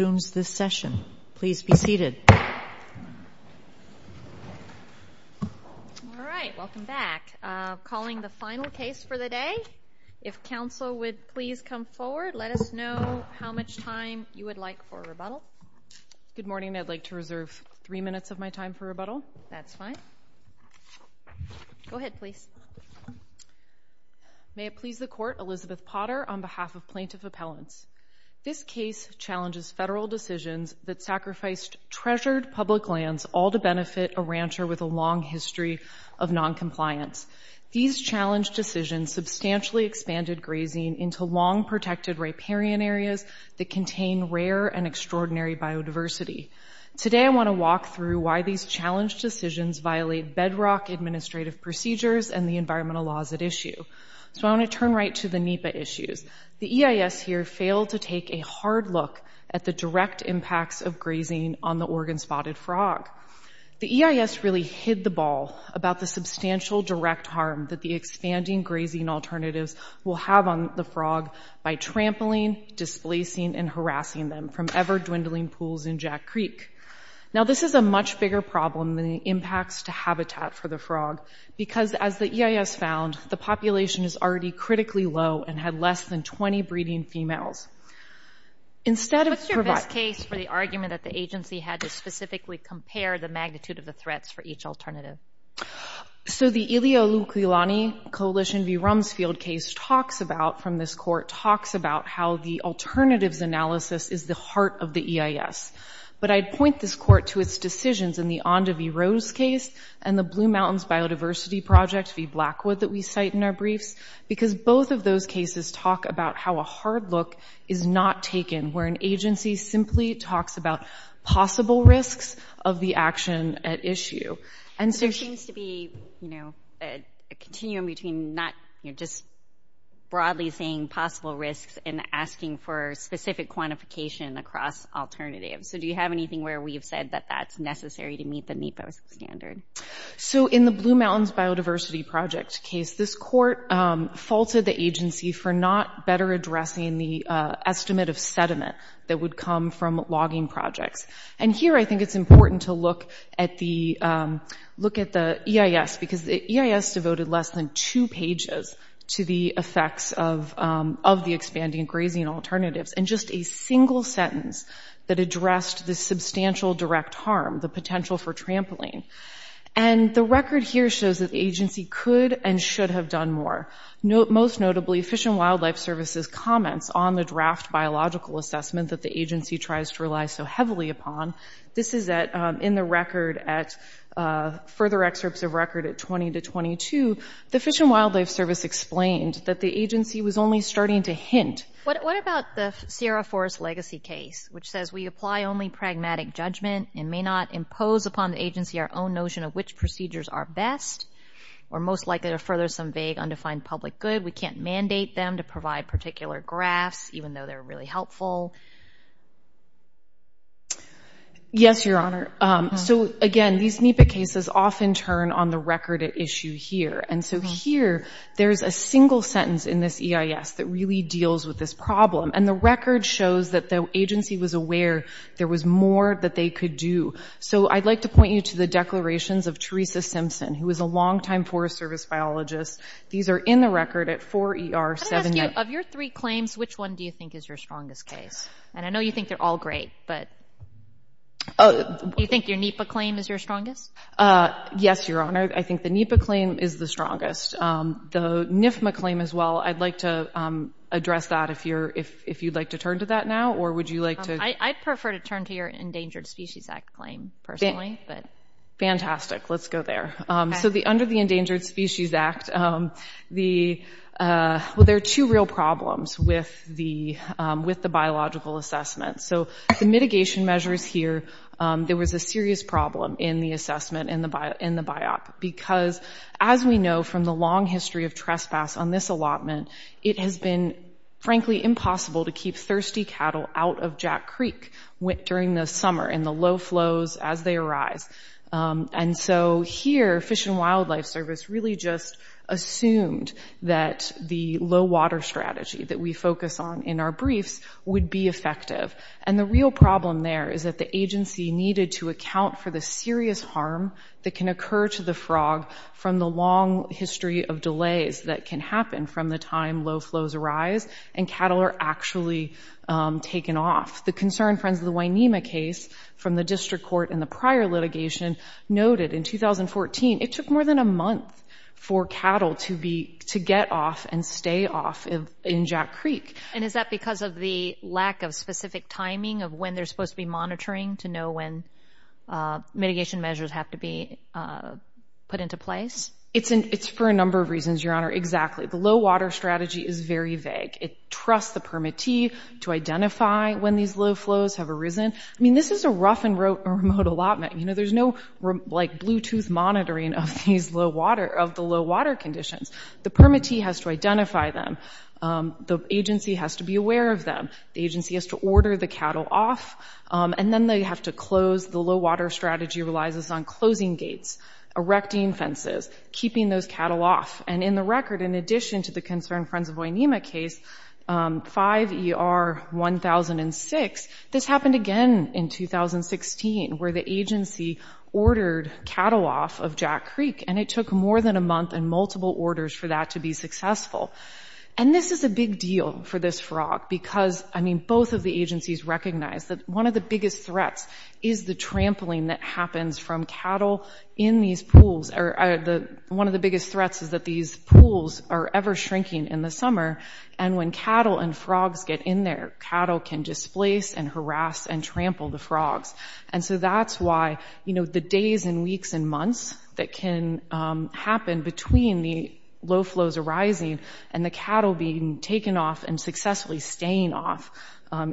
All right. Welcome back. Calling the final case for the day. If counsel would please come forward, let us know how much time you would like for a rebuttal. Good morning. I'd like to reserve three minutes of my time for rebuttal. That's fine. Go ahead, please. May it please the court, Elizabeth Potter on behalf of Plaintiff Appellants. This case challenges federal decisions that sacrificed treasured public lands all to benefit a rancher with a long history of noncompliance. These challenged decisions substantially expanded grazing into long-protected riparian areas that contain rare and extraordinary biodiversity. Today I want to walk through why these challenged decisions violate bedrock administrative procedures and the environmental laws at issue. So I want to turn right to the NEPA issues. The EIS really hid the ball about the substantial direct harm that the expanding grazing alternatives will have on the frog by trampling, displacing, and harassing them from ever-dwindling pools in Jack Creek. Now, this is a much bigger problem than the impacts to habitat for the frog, because as the EIS found, the population is already critically low and had less than 20 breeding females. Instead of providing... What's your best case for the argument that the agency had to specifically compare the magnitude of the threats for each alternative? So the Ilia Oluklilani Coalition v. Rumsfield case talks about, from this court, talks about how the alternatives analysis is the heart of the EIS. But I'd point this court to its decisions in the Onda v. Rose case and the Blue Mountains Biodiversity Project v. Blackwood that we cite in our briefs, because both of those cases talk about how a hard look is not taken, where an agency simply talks about possible risks of the action at issue. And so... There seems to be, you know, a continuum between not, you know, just broadly saying possible risks and asking for specific quantification across alternatives. So do you have anything where we've said that that's necessary to meet the NEPA standard? So in the Blue Mountains Biodiversity Project case, this court faulted the agency for not better addressing the estimate of sediment that would come from logging projects. And here I think it's important to look at the EIS, because the EIS devoted less than two pages to the effects of the expanding grazing alternatives, and just a single sentence that And the record here shows that the agency could and should have done more. Most notably, Fish and Wildlife Service's comments on the draft biological assessment that the agency tries to rely so heavily upon. This is in the record at...further excerpts of record at 20 to 22. The Fish and Wildlife Service explained that the agency was only starting to hint... What about the Sierra Forest legacy case, which says we apply only pragmatic judgment and may not impose upon the agency our own notion of which procedures are best, or most likely to further some vague, undefined public good. We can't mandate them to provide particular graphs, even though they're really helpful. Yes, Your Honor. So again, these NEPA cases often turn on the record at issue here. And so here, there's a single sentence in this EIS that really deals with this problem. And the record shows that the agency was aware there was more that they could do. So I'd like to point you to the declarations of Teresa Simpson, who was a long-time Forest Service biologist. These are in the record at 4ER7... Can I ask you, of your three claims, which one do you think is your strongest case? And I know you think they're all great, but do you think your NEPA claim is your strongest? Yes, Your Honor. I think the NEPA claim is the strongest. The NIFMA claim as well, I'd like to address that if you'd like to turn to that now, or would you like to... I'd prefer to turn to your Endangered Species Act claim, personally, but... Fantastic. Let's go there. So under the Endangered Species Act, the... Well, there are two real problems with the biological assessment. So the mitigation measures here, there was a serious problem in the assessment in the biop, because as we know from the long history of it has been, frankly, impossible to keep thirsty cattle out of Jack Creek during the summer in the low flows as they arise. And so here, Fish and Wildlife Service really just assumed that the low water strategy that we focus on in our briefs would be effective. And the real problem there is that the agency needed to account for the serious harm that can occur to the frog from the long history of delays that can happen from the time low flows arise and cattle are actually taken off. The concern, Friends of the Wainema case, from the district court in the prior litigation noted in 2014, it took more than a month for cattle to be, to get off and stay off in Jack Creek. And is that because of the lack of specific timing of when they're supposed to be monitoring to know when mitigation measures have to be put into place? It's for a number of reasons, Your Honor. Exactly. The low water strategy is very vague. It trusts the permittee to identify when these low flows have arisen. I mean, this is a rough and remote allotment. You know, there's no like Bluetooth monitoring of these low water, of the low water conditions. The permittee has to identify them. The agency has to be close. The low water strategy relies on closing gates, erecting fences, keeping those cattle off. And in the record, in addition to the concern, Friends of Wainema case, 5 ER 1006, this happened again in 2016 where the agency ordered cattle off of Jack Creek and it took more than a month and multiple orders for that to be successful. And this is a big deal for this frog because, I mean, both of the agencies recognize that one of the biggest threats is the trampling that happens from cattle in these pools. One of the biggest threats is that these pools are ever shrinking in the summer. And when cattle and frogs get in there, cattle can displace and harass and trample the frogs. And so that's why, you know, the days and weeks and months that can happen between the low flows arising and the cattle being taken off and successfully staying off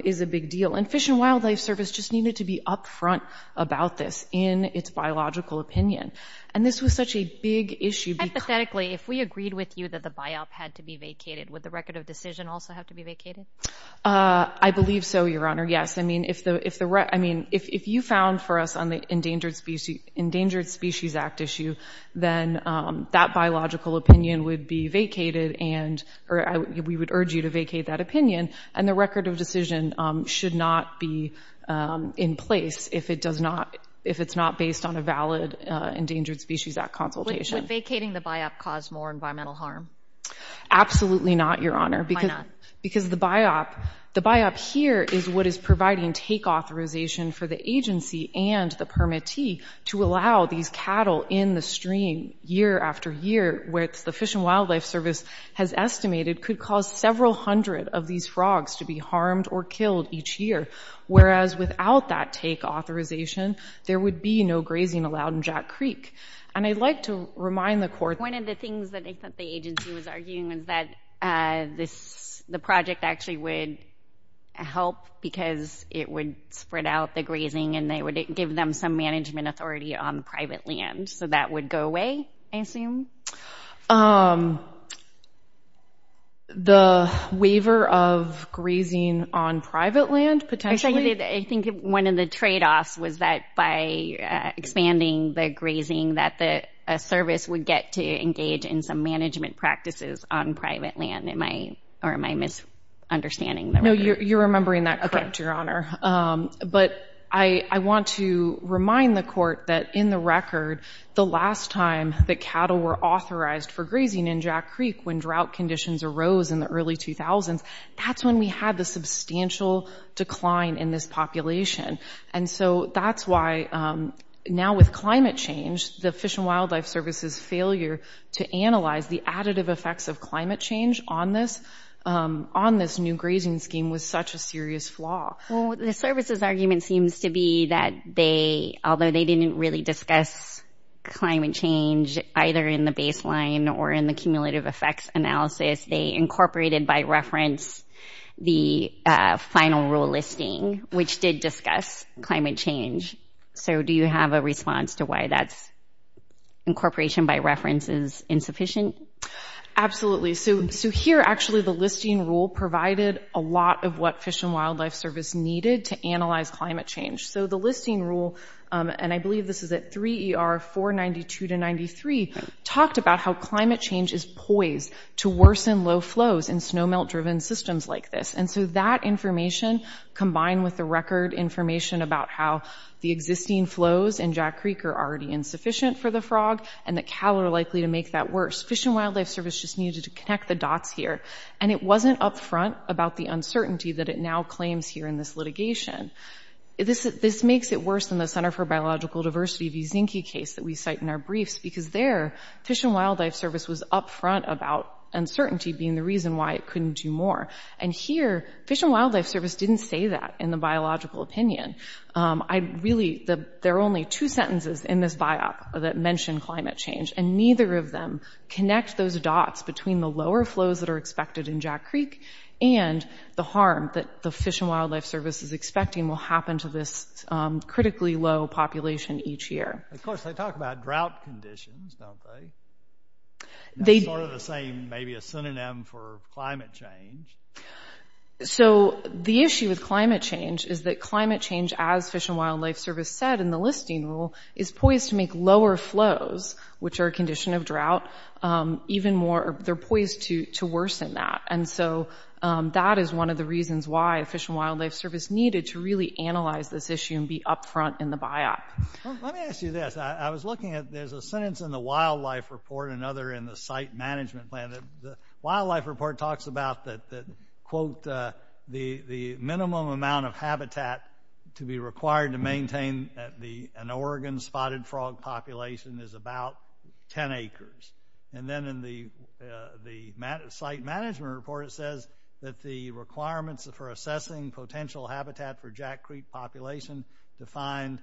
is a big deal. And Fish and Wildlife Service just needed to be up front about this in its biological opinion. And this was such a big issue because Hypothetically, if we agreed with you that the biop had to be vacated, would the record of decision also have to be vacated? I believe so, Your Honor. Yes. I mean, if you found for us on the Endangered Species Act issue, then that biological opinion would be vacated and or we would urge you to vacate that opinion. And the record of decision should not be in place if it does not, if it's not based on a valid Endangered Species Act consultation. Would vacating the biop cause more environmental harm? Absolutely not, Your Honor. Why not? Because the biop, the biop here is what is providing take authorization for the agency and the permittee to allow these cattle in the stream year after year, where the Fish and Wildlife Service has estimated could cause several hundred of these frogs to be harmed or killed each year. Whereas without that take authorization, there would be no grazing allowed in Jack Creek. And I'd like to remind the court... One of the things that I thought the agency was arguing was that this, the project actually would help because it would spread out the grazing and they would give them some management authority on private land. So that would go away, I assume? Um, the waiver of grazing on private land, potentially? I think one of the trade-offs was that by expanding the grazing that the service would get to engage in some management practices on private land. Am I, or am I misunderstanding the record? No, you're remembering that correct, Your Honor. But I want to remind the court that in the record, the last time that cattle were authorized for grazing in Jack Creek when drought conditions arose in the early 2000s, that's when we had the substantial decline in this population. And so that's why now with climate change, the Fish and Wildlife Service's failure to analyze the additive effects of climate change on this, on this new grazing scheme was such a serious flaw. Well, the service's argument seems to be that they, although they didn't really discuss climate change, either in the baseline or in the cumulative effects analysis, they incorporated by reference the final rule listing, which did discuss climate change. So do you have a response to why that's incorporation by reference is insufficient? Absolutely. So, so here actually the listing rule provided a lot of what Fish and Wildlife Service needed to analyze climate change. So the listing rule, and I believe this is at 3 ER 492 to 93, talked about how climate change is poised to worsen low flows in snowmelt-driven systems like this. And so that information combined with the record information about how the existing flows in Jack Creek are already insufficient for the frog and that cattle are likely to make that worse. Fish and Wildlife Service just needed to connect the dots here. And it wasn't upfront about the uncertainty that it now claims here in this litigation. This makes it worse than the Center for Biological Diversity v. Zinke case that we cite in our briefs because there Fish and Wildlife Service was upfront about uncertainty being the reason why it couldn't do more. And here Fish and Wildlife Service didn't say that in the biological opinion. I really, there are only two sentences in this biop that mentioned climate change and neither of them connect those dots between the lower flows that are expected in Jack Creek and the harm that the Fish and Wildlife Service is expecting will happen to this critically low population each year. Of course, they talk about drought conditions, don't they? They do. Sort of the same, maybe a synonym for climate change. So the issue with climate change is that climate change, as Fish and Wildlife Service said in the listing rule, is poised to make lower flows, which are a condition of drought, even more, they're poised to worsen that. And so that is one of the reasons why Fish and Wildlife Service needed to really analyze this issue and be upfront in the biop. Let me ask you this. I was looking at, there's a sentence in the wildlife report and another in the site management plan. The wildlife report talks about that, quote, the minimum amount of habitat to be required to maintain an Oregon spotted frog population is about 10 acres. And then in the site management report, it says that the requirements for assessing potential habitat for Jack Creek population defined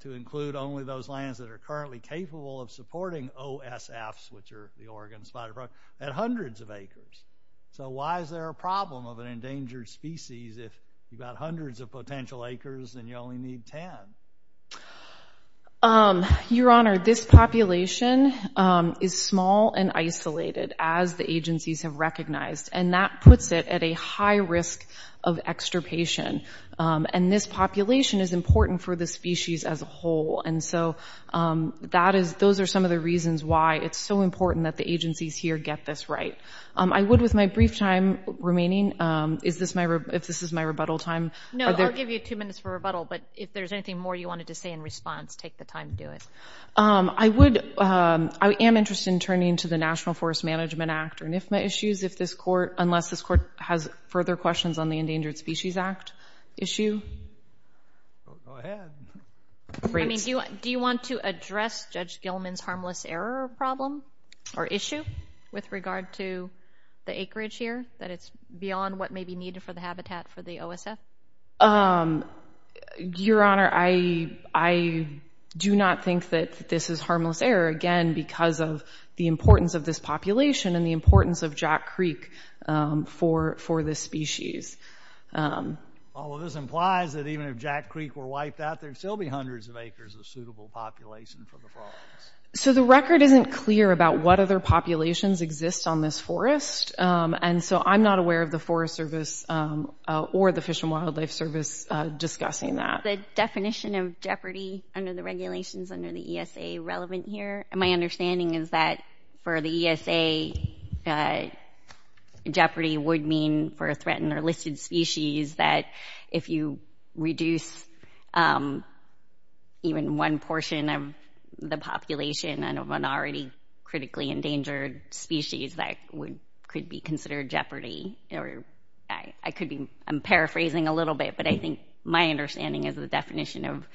to include only those lands that are currently capable of supporting OSFs, which are the Oregon spotted frog, at hundreds of acres. So why is there a problem of an endangered species if you've got hundreds of potential acres and you only need 10? Your Honor, this population is small and isolated as the agencies have recognized, and that puts it at a high risk of extirpation. And this population is important for the species as a whole. And so that is, those are some of the reasons why it's so important that the agencies here get this right. I would, with my brief time remaining, if this is my rebuttal time. No, I'll give you two minutes for rebuttal, but if there's anything more you wanted to say in response, take the time to do it. I am interested in turning to the National Forest Management Act or NFMA issues if this court, unless this court has further questions on the Endangered Species Act issue. Go ahead. Do you want to address Judge Gilman's harmless error problem or issue with regard to the acreage here, that it's beyond what may be needed for the habitat for the OSF? Your Honor, I do not think that this is harmless error, again, because of the importance of this population and the importance of Jack Creek for this species. Well, this implies that even if Jack Creek were wiped out, there'd still be hundreds of acres of suitable population for the frogs. So the record isn't clear about what other populations exist on this forest. And so I'm not aware of the Forest Service or the Fish and Wildlife Service discussing that. The definition of jeopardy under the regulations under the ESA relevant here? My understanding is that for the ESA, jeopardy would mean for a threatened or listed species that if you reduce even one portion of the population and a minority critically endangered species, that could be considered jeopardy. I'm paraphrasing a little bit, but I think my understanding is the definition of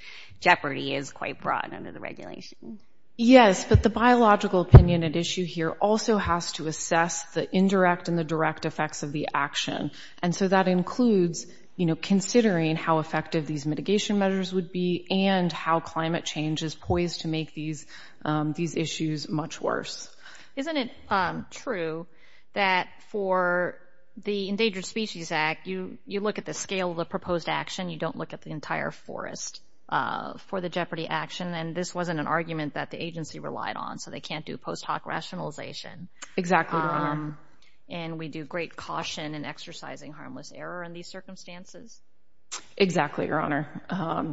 jeopardy is quite broad under the regulations. Yes, but the biological opinion at issue here also has to assess the indirect and the direct effects of the action. And so that includes, you know, considering how effective these mitigation measures would be and how climate change is poised to make these issues much worse. Isn't it true that for the Endangered Species Act, you look at the scale of the proposed action, you don't look at the entire forest for the jeopardy action? And this wasn't an argument that the agency relied on, so they can't do post hoc rationalization. Exactly, Your Honor. And we do great caution in exercising harmless error in these circumstances? Exactly, Your Honor.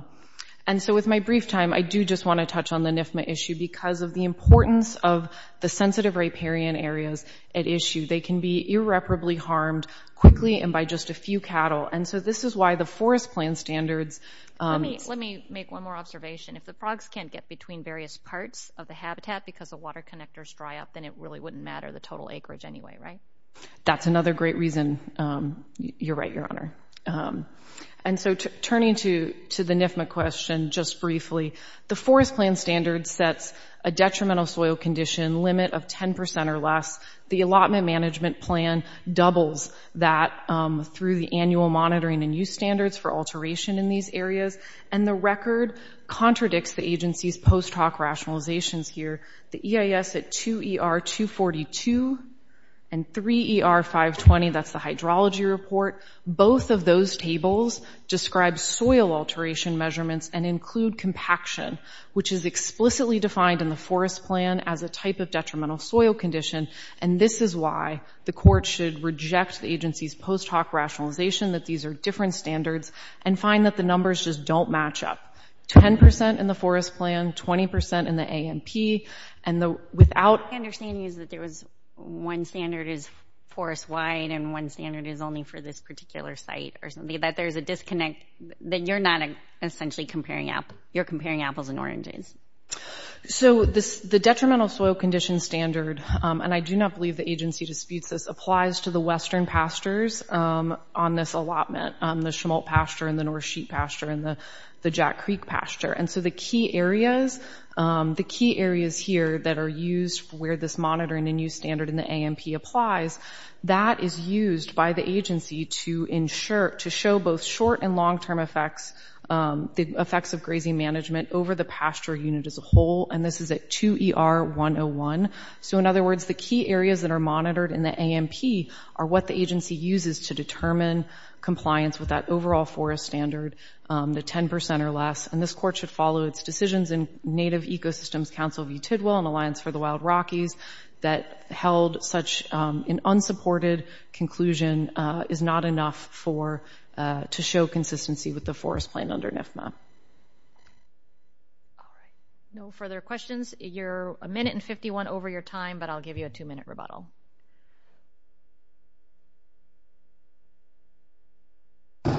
And so with my brief time, I do just want to touch on the NFMA issue because of the importance of the sensitive riparian areas at issue. They can be irreparably harmed quickly and by just a few cattle. And so this is why the forest plan standards... Let me make one more observation. If the frogs can't get between various parts of the habitat because the water connectors dry up, then it really wouldn't matter the total acreage anyway, right? That's another great reason. You're right, Your Honor. And so turning to the NFMA question just briefly, the forest plan standard sets a detrimental soil condition limit of 10% or less. The allotment management plan doubles that through the annual monitoring and use standards for alteration in these areas. And the record contradicts the agency's post hoc rationalizations here. The EIS at 2ER-242 and 3ER-520, that's the hydrology report, both of those tables describe soil alteration measurements and include compaction, which is explicitly defined in the forest plan as a type of detrimental soil condition. And this is why the court should reject the agency's post hoc rationalization that these are different standards and find that the numbers just don't match up. 10% in the forest plan, 20% in the ANP, and the without... My understanding is that there was one standard is forest wide and one standard is only for this particular site or something. But there's a disconnect that you're not essentially comparing apples. You're comparing apples and oranges. So the detrimental soil condition standard, and I do not believe the agency disputes this, applies to the western pastures on this allotment, the Schmolt pasture and the North Sheep pasture and the Jack Creek pasture. And so the key areas, the key areas here that are used for where this monitoring and use standard in the ANP applies, that is used by the agency to show both short and long term effects, the effects of grazing management over the pasture unit as a whole. And this is at 2 ER 101. So in other words, the key areas that are monitored in the ANP are what the agency uses to determine compliance with that overall forest standard, the 10% or less. And this court should follow its decisions in Native Ecosystems Council v. Tidwell and Alliance for the Wild Rockies that held such an unsupported conclusion is not enough to show consistency with the forest plan under NFMA. No further questions. You're a minute and 51 over your time, but I'll give you a two-minute rebuttal. Good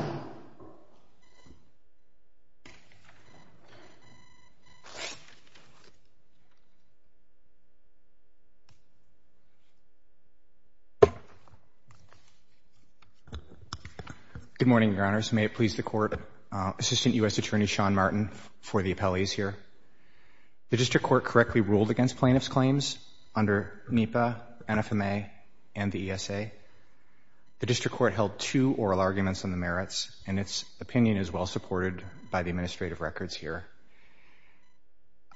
morning, Your Honors. May it please the Court. Assistant U.S. Attorney Sean Martin for the appellees here. The district court correctly ruled against plaintiff's claims under NEPA, NFMA, and the ESA. The district court held two oral arguments on the merits, and its opinion is well supported by the administrative records here.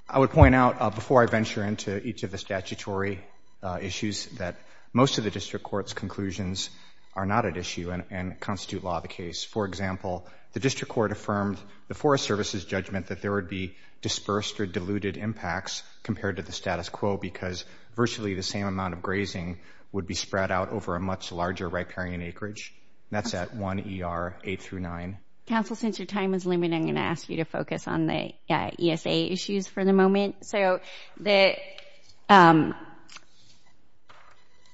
I would point out, before I venture into each of the statutory issues, that most of the district court's conclusions are not at issue and constitute law of the case. For example, the district court affirmed the Forest Service's judgment that there would be dispersed or diluted impacts compared to the status quo because virtually the same amount of grazing would be spread out over a much larger riparian acreage. That's at 1 ER 8 through 9. Counsel, since your time is limited, I'm going to ask you to focus on the ESA issues for the moment.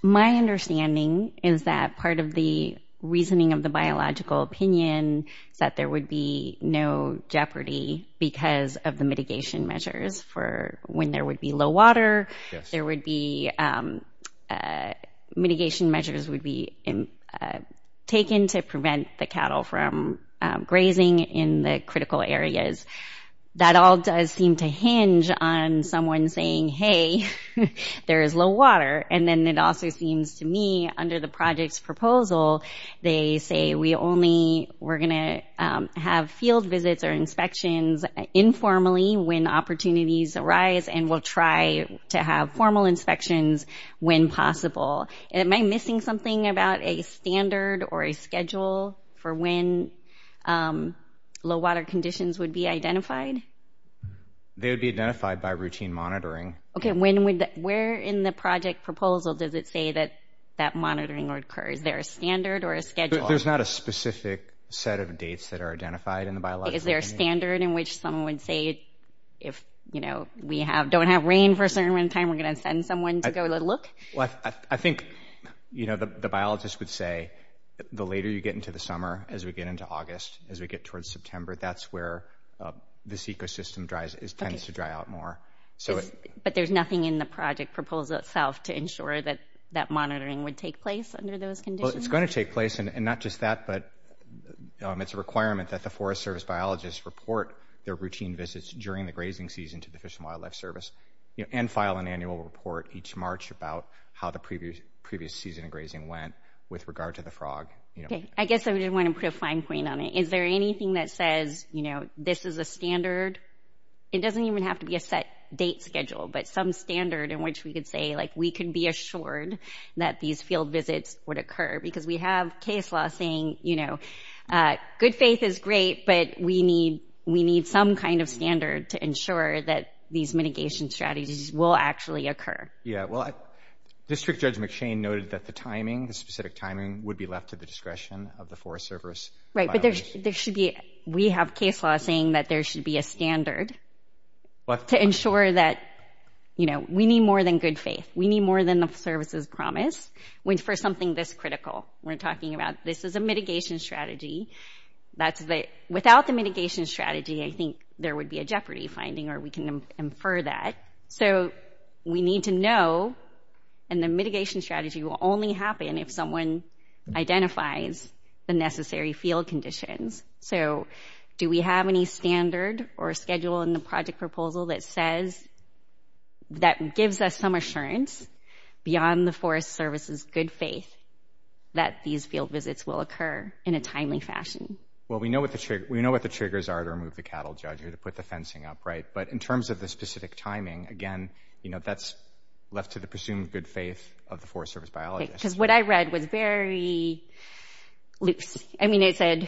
My understanding is that part of the reasoning of the biological opinion is that there would be no jeopardy because of the mitigation measures for when there would be low water. Mitigation measures would be taken to prevent the cattle from grazing in the critical areas. That all does seem to hinge on someone saying, hey, there is low water. And then it also seems to me, under the project's proposal, they say we're going to have fields visits or inspections informally when opportunities arise and we'll try to have formal inspections when possible. Am I missing something about a standard or a schedule for when low water conditions would be identified? They would be identified by routine monitoring. Where in the project proposal does it say that monitoring occurs? Is there a standard or a schedule? There's not a specific set of dates that are identified in the biological opinion. Is there a standard in which someone would say, if we don't have rain for a certain amount of time, we're going to send someone to go look? I think the biologists would say the later you get into the summer, as we get into August, as we get towards September, that's where this ecosystem tends to dry out more. But there's nothing in the project proposal itself to ensure that that monitoring would take place under those conditions? Well, it's going to take place. And not just that, but it's a requirement that the Forest Service biologists report their routine visits during the grazing season to the Fish and Wildlife Service and file an annual report each March about how the previous season of grazing went with regard to the frog. I guess I did want to put a fine point on it. Is there anything that says this is a standard? It doesn't even have to be a set date schedule, but some standard in which we could say we can be assured that these field visits would occur? Because we have case law saying good faith is great, but we need some kind of standard to ensure that these mitigation strategies will actually occur. Yeah, well, District Judge McShane noted that the timing, the specific timing, would be left to the discretion of the Forest Service biologists. Right, but we have case law saying that there should be a standard to ensure that we need more than good faith. We need more than the services promised for something this critical. We're talking about this is a mitigation strategy. Without the mitigation strategy, I think there would be a jeopardy finding, or we can infer that. We need to know, and the mitigation strategy will only happen if someone identifies the necessary field conditions. Do we have any standard or schedule in the project proposal that gives us some assurance beyond the Forest Service's good faith that these field visits will occur in a timely fashion? Well, we know what the triggers are to remove the cattle judge or to put the fencing upright, but in terms of the specific timing, again, that's left to the presumed good faith of the Forest Service biologists. Okay, because what I read was very loose. I mean, it said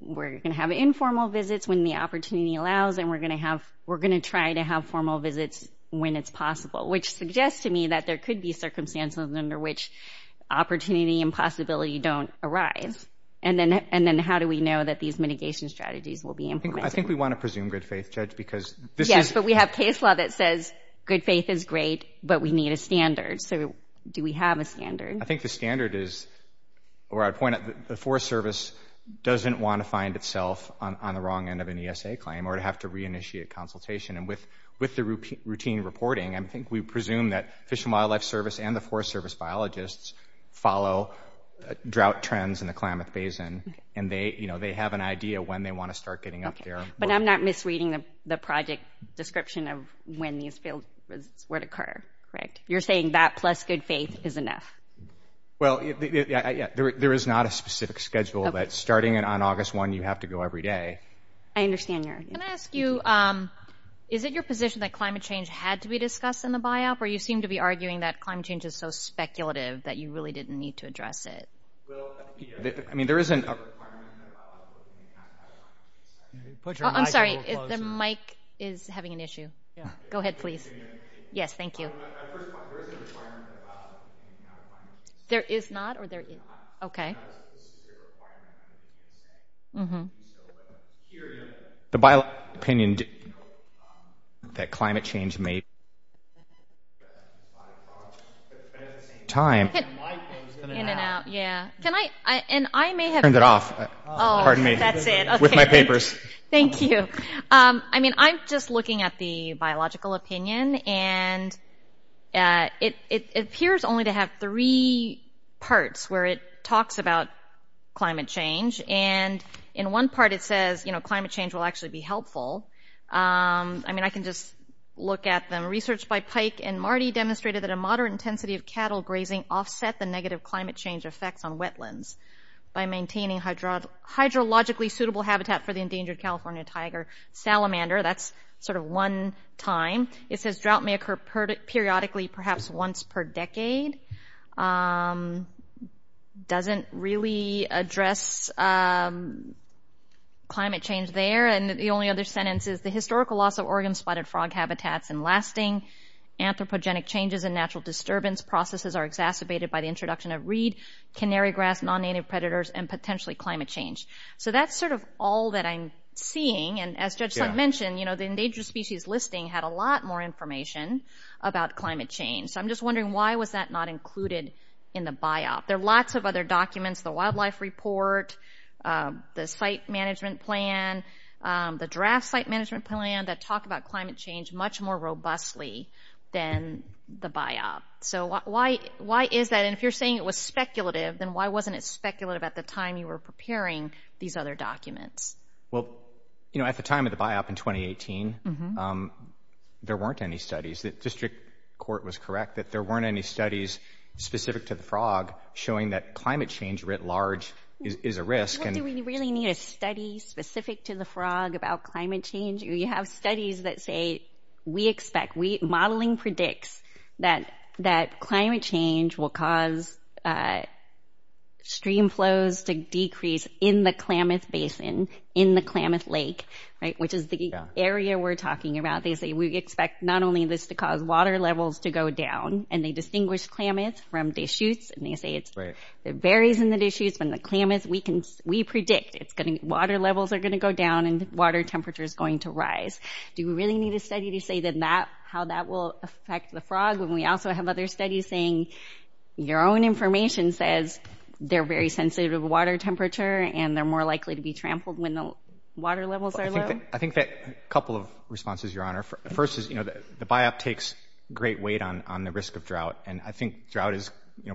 we're going to have informal visits when the opportunity allows, and we're going to try to have formal visits when it's possible, which suggests to me that there could be circumstances under which opportunity and possibility don't arise. And then how do we know that these mitigation strategies will be implemented? Yes, but we have case law that says good faith is great, but we need a standard. So do we have a standard? I'd point out that the Forest Service doesn't want to find itself on the wrong end of an ESA claim or to have to Forest Service biologists follow drought trends in the Klamath Basin. And they have an idea when they want to start getting up there. But I'm not misreading the project description of when these field visits were to occur, correct? You're saying that plus good faith is enough? Well, there is not a specific schedule, but starting on August 1, you have to go every day. Can I ask you, is it your position that climate change had to be discussed in the BIOP, or you seem to be arguing that climate change is so speculative that you really didn't need to address it? I'm sorry, the mic is having an issue. Go ahead, please. Yes, thank you. The BIOP opinion that climate change may... In and out, yeah. I'm just looking at the BIOP, and it appears only to have three parts where it talks about climate change. And in one part it says, you know, climate change will actually be helpful. I mean, I can just look at them. Research by Pike and Marty demonstrated that a moderate intensity of cattle grazing offset the negative climate change effects on wetlands by maintaining hydrologically suitable habitat for the endangered California tiger salamander. That's sort of one time. It says drought may occur periodically, perhaps once per decade. Doesn't really address climate change there. And the only other sentence is, the historical loss of Oregon spotted frog habitats and lasting anthropogenic changes in natural disturbance processes are exacerbated by the introduction of reed, canary grass, non-native predators, and potentially climate change. So that's sort of all that I'm seeing. And as Judge Sut mentioned, you know, the endangered species listing had a lot more information about climate change. So I'm just wondering, why was that not included in the BIOP? There are lots of other documents, the wildlife report, the site management plan, the draft site management plan, that talk about climate change much more robustly than the BIOP. So why is that? And if you're saying it was speculative, then why wasn't it speculative at the time you were preparing these other documents? Well, you know, at the time of the BIOP in 2018, there weren't any studies. The district court was correct that there weren't any studies specific to the frog showing that climate change writ large is a risk. Do we really need a study specific to the frog about climate change? You have studies that say, we expect, modeling predicts that climate change will cause stream flows to decrease in the Klamath Basin, in the Klamath Lake, right, which is the area we're talking about. They say we expect not only this to cause water levels to go down, and they distinguish Klamath from Deschutes, and they say it varies in the Deschutes, but in the Klamath, we predict water levels are going to go down and water temperature is going to rise. Do we really need a study to say how that will affect the frog? And we also have other studies saying your own information says they're very sensitive to water temperature, and they're more likely to be trampled when the water levels are low. I think that a couple of responses, Your Honor. First is, you know, the BIOP takes great weight on the risk of drought, and I think drought is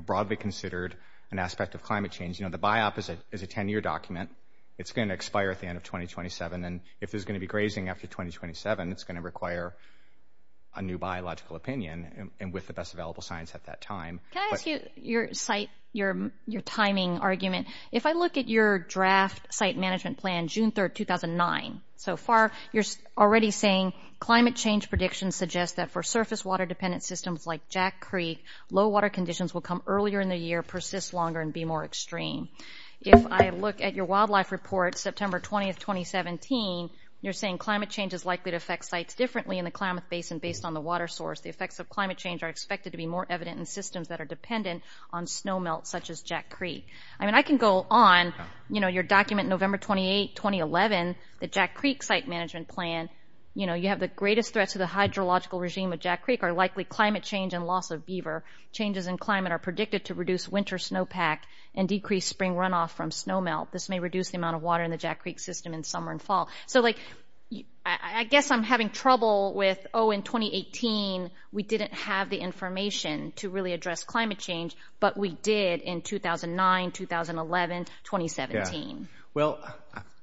broadly considered an aspect of climate change. You know, the BIOP is a 10-year document. It's going to expire at the end of 2027, and if there's going to be grazing after 2027, it's going to require a new biological opinion and with the best available science at that time. Can I ask you your timing argument? If I look at your draft site management plan, June 3, 2009, so far you're already saying climate change predictions suggest that for surface water-dependent systems like Jack Creek, low water conditions will come earlier in the year, persist longer, and be more extreme. If I look at your wildlife report, September 20, 2017, you're saying climate change is likely to affect sites differently in the Klamath Basin based on the water source. The effects of climate change are expected to be more evident in systems that are dependent on snow melt such as Jack Creek. I mean, I can go on, you know, your document November 28, 2011, the Jack Creek site management plan, you know, you have the greatest threats to the hydrological regime changes in climate are predicted to reduce winter snowpack and decrease spring runoff from snow melt. This may reduce the amount of water in the Jack Creek system in summer and fall. So, like, I guess I'm having trouble with, oh, in 2018, we didn't have the information to really address climate change, but we did in 2009, 2011, 2017. Well,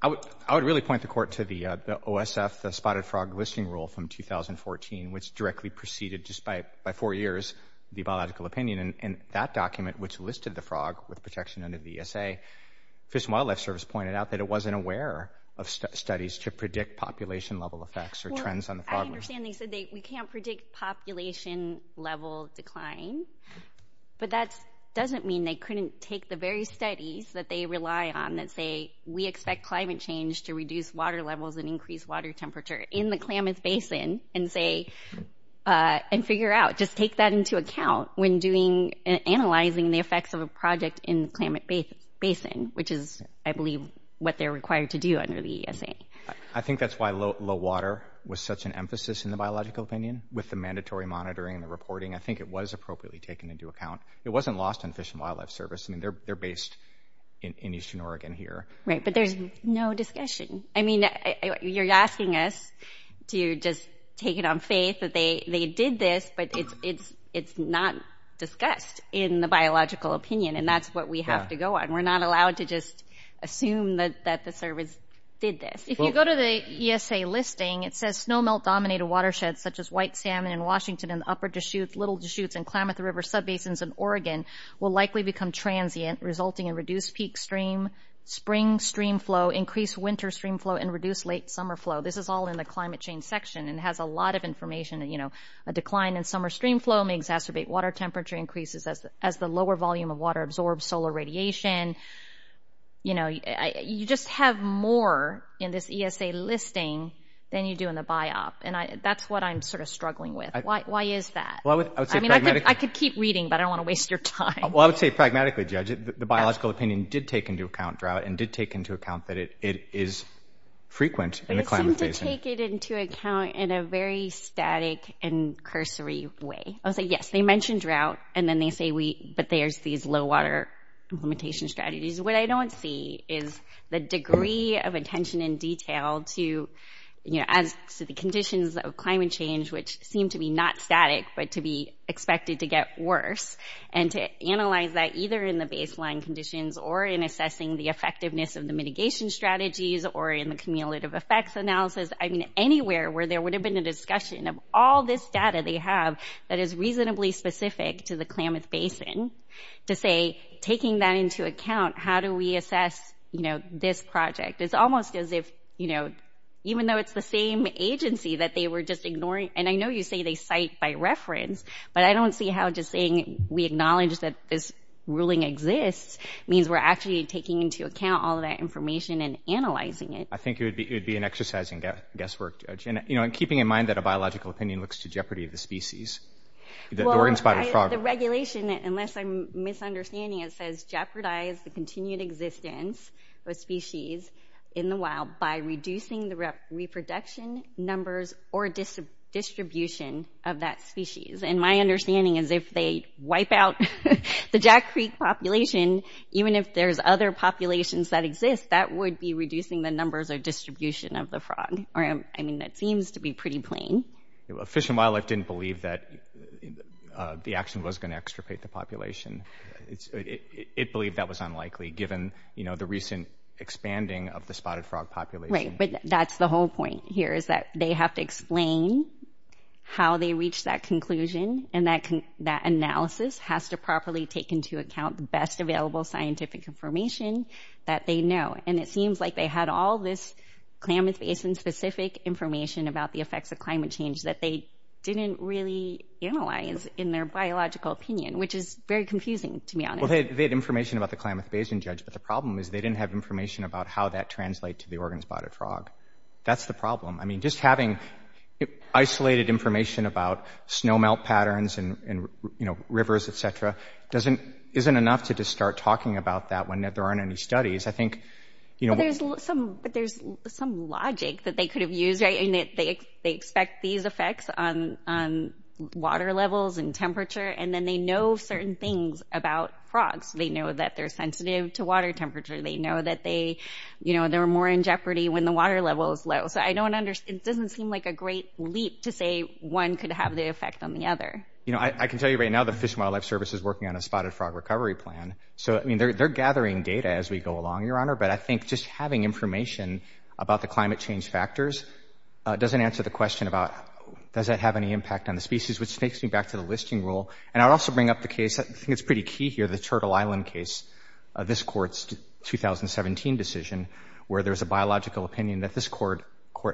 I would really point the court to the OSF, the Spotted Frog Listing Rule from 2014, which directly preceded, just by four years, the biological opinion. And that document, which listed the frog with protection under the ESA, Fish and Wildlife Service pointed out that it wasn't aware of studies to predict population-level effects or trends on the frog list. Well, I understand they said we can't predict population-level decline, but that doesn't mean they couldn't take the very studies that they rely on that say we expect climate change to reduce water levels and increase water temperature in the Klamath Basin and say – and figure out – just take that into account when doing – analyzing the effects of a project in the Klamath Basin, which is, I believe, what they're required to do under the ESA. I think that's why low water was such an emphasis in the biological opinion. With the mandatory monitoring and the reporting, I think it was appropriately taken into account. It wasn't lost on Fish and Wildlife Service. I mean, they're based in eastern Oregon here. Right, but there's no discussion. I mean, you're asking us to just take it on faith that they did this, but it's not discussed in the biological opinion, and that's what we have to go on. We're not allowed to just assume that the service did this. If you go to the ESA listing, it says, snowmelt-dominated watersheds such as White Salmon in Washington and the Upper Deschutes, Little Deschutes and Klamath River sub-basins in Oregon will likely become transient, resulting in reduced peak stream, spring stream flow, increased winter stream flow, and reduced late summer flow. This is all in the climate change section, and it has a lot of information. You know, a decline in summer stream flow may exacerbate water temperature increases as the lower volume of water absorbs solar radiation. You know, you just have more in this ESA listing than you do in the BiOp, and that's what I'm sort of struggling with. Why is that? I mean, I could keep reading, but I don't want to waste your time. Well, I would say, pragmatically, Judge, the biological opinion did take into account drought and did take into account that it is frequent in the Klamath basin. It seemed to take it into account in a very static and cursory way. I would say, yes, they mentioned drought, and then they say, but there's these low-water implementation strategies. What I don't see is the degree of attention and detail to, you know, as to the conditions of climate change, which seem to be not static, but to be expected to get worse, and to analyze that either in the baseline conditions or in assessing the effectiveness of the mitigation strategies or in the cumulative effects analysis. I mean, anywhere where there would have been a discussion of all this data they have that is reasonably specific to the Klamath basin, to say, taking that into account, how do we assess, you know, this project? It's almost as if, you know, even though it's the same agency that they were just ignoring, and I know you say they cite by reference, but I don't see how just saying, we acknowledge that this ruling exists means we're actually taking into account all of that information and analyzing it. I think it would be an exercising guesswork, Judge. And, you know, and keeping in mind that a biological opinion looks to jeopardy of the species, the organ spotted frog. Well, the regulation, unless I'm misunderstanding it, says jeopardize the continued existence of species in the wild by reducing the reproduction numbers or distribution of that species. And my understanding is if they wipe out the Jack Creek population, even if there's other populations that exist, that would be reducing the numbers or distribution of the frog. I mean, that seems to be pretty plain. Fish and Wildlife didn't believe that the action was going to extirpate the population. It believed that was unlikely given, you know, the recent expanding of the spotted frog population. Right, but that's the whole point here is that they have to explain how they reached that conclusion and that analysis has to properly take into account the best available scientific information that they know. And it seems like they had all this climate-based and specific information about the effects of climate change that they didn't really analyze in their biological opinion, which is very confusing, to be honest. Well, they had information about the climate-based and judged, but the problem is they didn't have information about how that translates to the organ spotted frog. That's the problem. I mean, just having isolated information about snow melt patterns and, you know, rivers, et cetera, isn't enough to just start talking about that when there aren't any studies. I think, you know— But there's some logic that they could have used, right? I mean, they expect these effects on water levels and temperature and then they know certain things about frogs. They know that they're sensitive to water temperature. They know that they're more in jeopardy when the water level is low. So I don't understand. It doesn't seem like a great leap to say one could have the effect on the other. You know, I can tell you right now the Fish and Wildlife Service is working on a spotted frog recovery plan. So, I mean, they're gathering data as we go along, Your Honor, but I think just having information about the climate change factors doesn't answer the question about does that have any impact on the species, which takes me back to the listing rule. And I would also bring up the case—I think it's pretty key here— the Turtle Island case, this Court's 2017 decision, where there was a biological opinion that this Court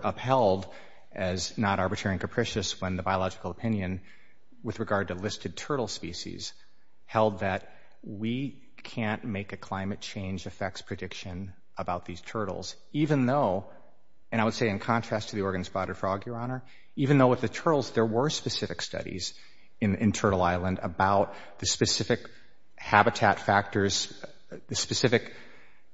upheld as not arbitrary and capricious when the biological opinion, with regard to listed turtle species, held that we can't make a climate change effects prediction about these turtles, even though—and I would say in contrast to the Oregon spotted frog, Your Honor— even though with the turtles there were specific studies in Turtle Island about the specific habitat factors, the specific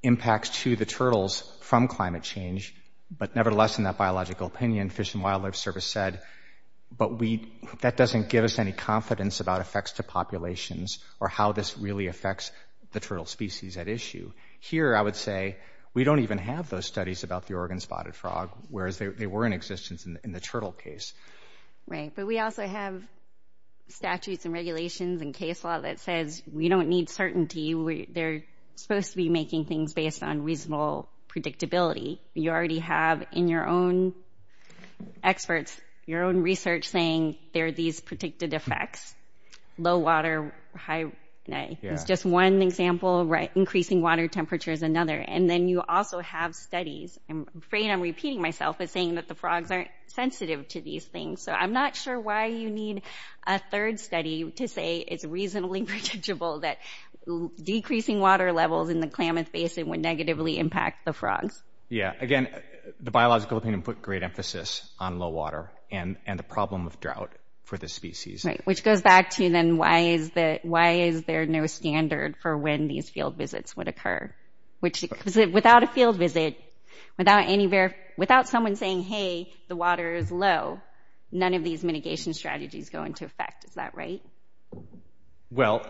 impacts to the turtles from climate change, but nevertheless in that biological opinion, Fish and Wildlife Service said, but that doesn't give us any confidence about effects to populations or how this really affects the turtle species at issue. Here I would say we don't even have those studies about the Oregon spotted frog, whereas they were in existence in the turtle case. Right, but we also have statutes and regulations and case law that says we don't need certainty. They're supposed to be making things based on reasonable predictability. You already have in your own experts, your own research, saying there are these predicted effects. Low water, high—it's just one example. Increasing water temperature is another. And then you also have studies. I'm afraid I'm repeating myself as saying that the frogs aren't sensitive to these things, so I'm not sure why you need a third study to say it's reasonably predictable that decreasing water levels in the Klamath Basin would negatively impact the frogs. Yeah. Again, the Biological Opinion put great emphasis on low water and the problem of drought for this species. Right, which goes back to, then, why is there no standard for when these field visits would occur? Because without a field visit, without someone saying, hey, the water is low, none of these mitigation strategies go into effect. Is that right? Well,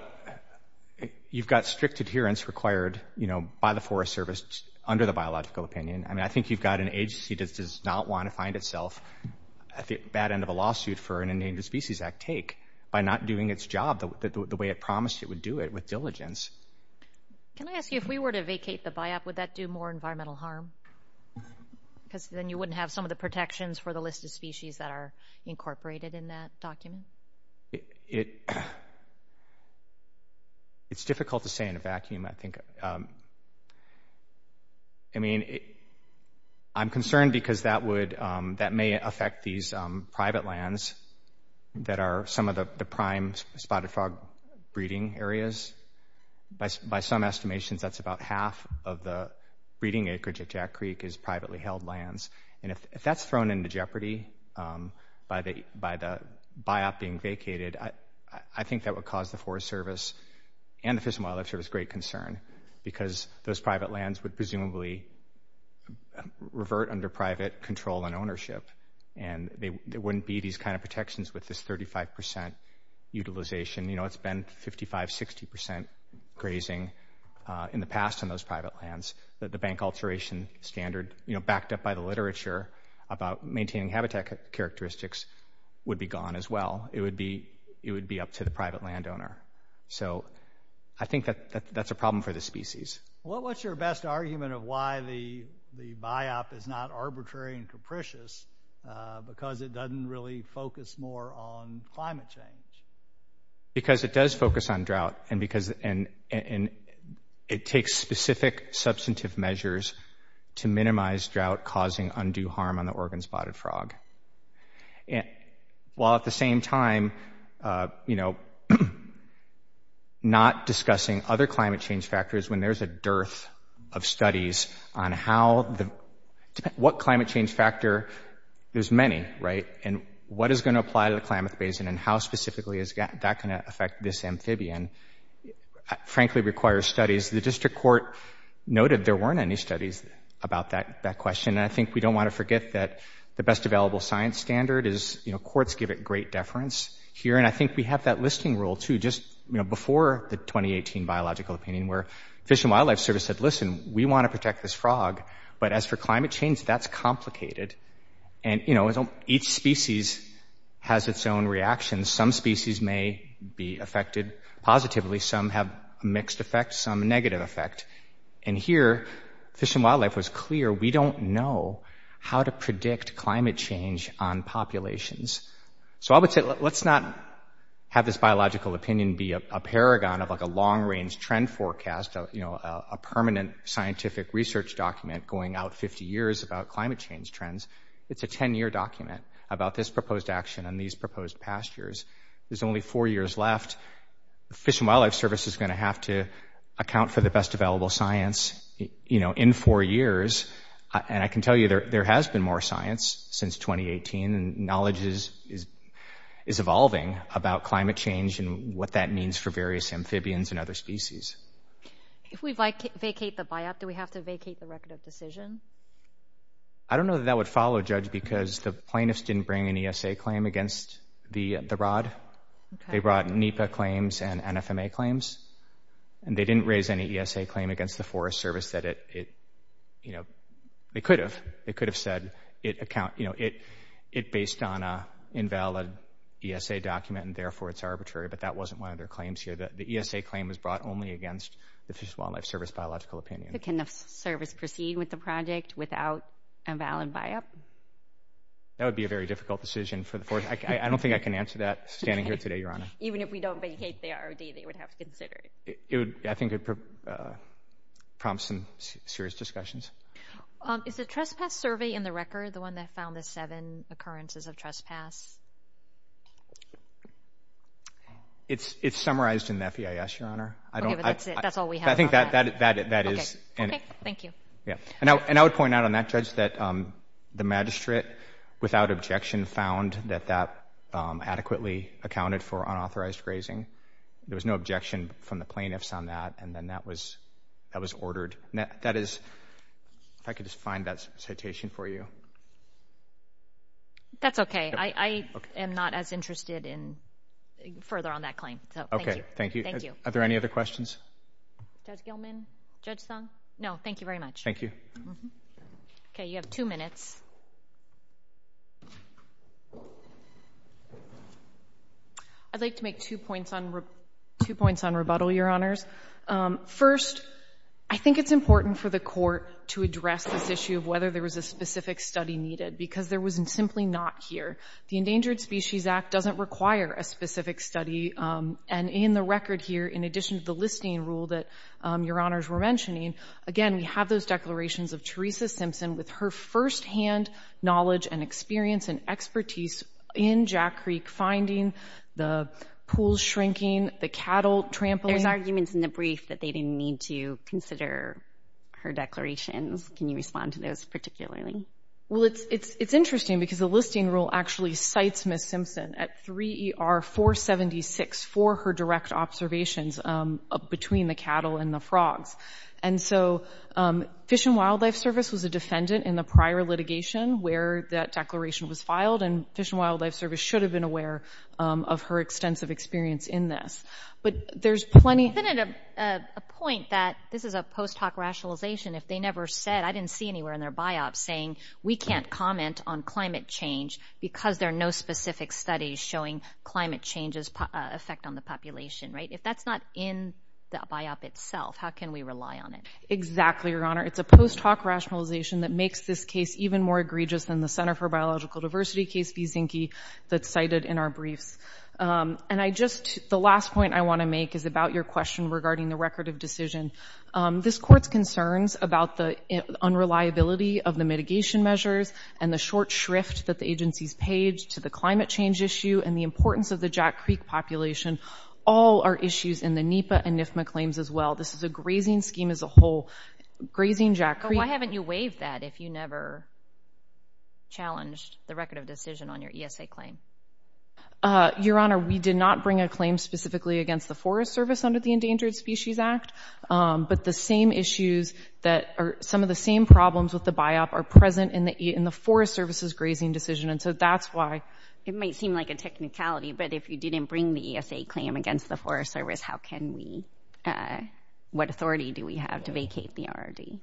you've got strict adherence required, you know, by the Forest Service under the Biological Opinion. I mean, I think you've got an agency that does not want to find itself at the bad end of a lawsuit for an Endangered Species Act take by not doing its job the way it promised it would do it, with diligence. Can I ask you, if we were to vacate the BiOp, would that do more environmental harm? Because then you wouldn't have some of the protections for the list of species that are incorporated in that document. It's difficult to say in a vacuum, I think. I mean, I'm concerned because that may affect these private lands that are some of the prime spotted frog breeding areas. By some estimations, that's about half of the breeding acreage at Jack Creek is privately held lands. And if that's thrown into jeopardy by the BiOp being vacated, I think that would cause the Forest Service and the Fish and Wildlife Service great concern because those private lands would presumably revert under private control and ownership. And there wouldn't be these kind of protections with this 35% utilization. You know, it's been 55%, 60% grazing in the past on those private lands. The bank alteration standard, you know, backed up by the literature about maintaining habitat characteristics would be gone as well. It would be up to the private landowner. So I think that's a problem for the species. What's your best argument of why the BiOp is not arbitrary and capricious because it doesn't really focus more on climate change? Because it does focus on drought. And it takes specific substantive measures to minimize drought causing undue harm on the Oregon spotted frog. While at the same time, you know, not discussing other climate change factors when there's a dearth of studies on what climate change factor. There's many, right? And what is going to apply to the Klamath Basin and how specifically is that going to affect this amphibian, frankly requires studies. The district court noted there weren't any studies about that question. And I think we don't want to forget that the best available science standard is, you know, courts give it great deference here. And I think we have that listing rule, too, just, you know, before the 2018 Biological Opinion where Fish and Wildlife Service said, listen, we want to protect this frog. But as for climate change, that's complicated. And, you know, each species has its own reactions. Some species may be affected positively. Some have mixed effects, some negative effect. And here Fish and Wildlife was clear, we don't know how to predict climate change on populations. So I would say let's not have this biological opinion be a paragon of like a long-range trend forecast, you know, a permanent scientific research document going out 50 years about climate change trends. It's a 10-year document about this proposed action and these proposed pastures. There's only four years left. Fish and Wildlife Service is going to have to account for the best available science, you know, in four years. And I can tell you there has been more science since 2018, and knowledge is evolving about climate change and what that means for various amphibians and other species. If we vacate the biop, do we have to vacate the record of decision? I don't know that that would follow, Judge, because the plaintiffs didn't bring an ESA claim against the rod. They brought NEPA claims and NFMA claims. And they didn't raise any ESA claim against the Forest Service that it, you know, they could have. They could have said, you know, it based on an invalid ESA document and therefore it's arbitrary, but that wasn't one of their claims here. The ESA claim was brought only against the Fish and Wildlife Service biological opinion. Can the service proceed with the project without a valid biop? That would be a very difficult decision for the Forest Service. I don't think I can answer that standing here today, Your Honor. Even if we don't vacate the ROD, they would have to consider it. I think it prompts some serious discussions. Is the trespass survey in the record the one that found the seven occurrences of trespass? It's summarized in the FEIS, Your Honor. Okay, but that's it. That's all we have on that. I think that is. Okay, thank you. And I would point out on that, Judge, that the magistrate, without objection, found that that adequately accounted for unauthorized grazing. There was no objection from the plaintiffs on that, and then that was ordered. If I could just find that citation for you. That's okay. I am not as interested further on that claim. Okay, thank you. Are there any other questions? Judge Gilman? Judge Thong? No, thank you very much. Thank you. Okay, you have two minutes. I'd like to make two points on rebuttal, Your Honors. First, I think it's important for the court to address this issue of whether there was a specific study needed because there was simply not here. The Endangered Species Act doesn't require a specific study. And in the record here, in addition to the listing rule that Your Honors were mentioning, again, we have those declarations of Teresa Simpson with her firsthand knowledge and experience and expertise in Jack Creek, finding the pools shrinking, the cattle trampling. There's arguments in the brief that they didn't need to consider her declarations. Can you respond to those particularly? Well, it's interesting because the listing rule actually cites Ms. Simpson at 3ER476 for her direct observations between the cattle and the frogs. And so Fish and Wildlife Service was a defendant in the prior litigation where that declaration was filed, and Fish and Wildlife Service should have been aware of her extensive experience in this. But there's plenty of- I've been at a point that this is a post hoc rationalization. If they never said-I didn't see anywhere in their biop saying we can't comment on climate change because there are no specific studies showing climate change's effect on the population, right? If that's not in the biop itself, how can we rely on it? Exactly, Your Honor. It's a post hoc rationalization that makes this case even more egregious than the Center for Biological Diversity case v. Zinke that's cited in our briefs. And I just-the last point I want to make is about your question regarding the record of decision. This Court's concerns about the unreliability of the mitigation measures and the short shrift that the agencies page to the climate change issue and the importance of the Jack Creek population all are issues in the NEPA and NIFMA claims as well. This is a grazing scheme as a whole. Grazing Jack Creek- But why haven't you waived that if you never challenged the record of decision on your ESA claim? Your Honor, we did not bring a claim specifically against the Forest Service under the Endangered Species Act. But the same issues that are-some of the same problems with the biop are present in the Forest Service's grazing decision. And so that's why- It might seem like a technicality, but if you didn't bring the ESA claim against the Forest Service, how can we-what authority do we have to vacate the RRD?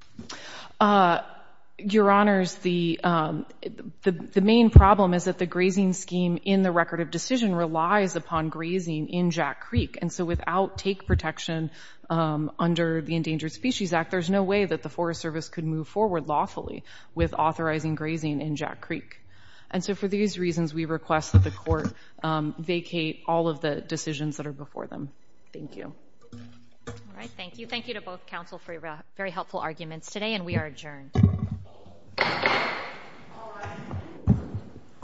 Your Honors, the main problem is that the grazing scheme in the record of decision relies upon grazing in Jack Creek. And so without take protection under the Endangered Species Act, there's no way that the Forest Service could move forward lawfully with authorizing grazing in Jack Creek. And so for these reasons, we request that the court vacate all of the decisions that are before them. Thank you. All right. Thank you. Thank you to both counsel for your very helpful arguments today. And we are adjourned.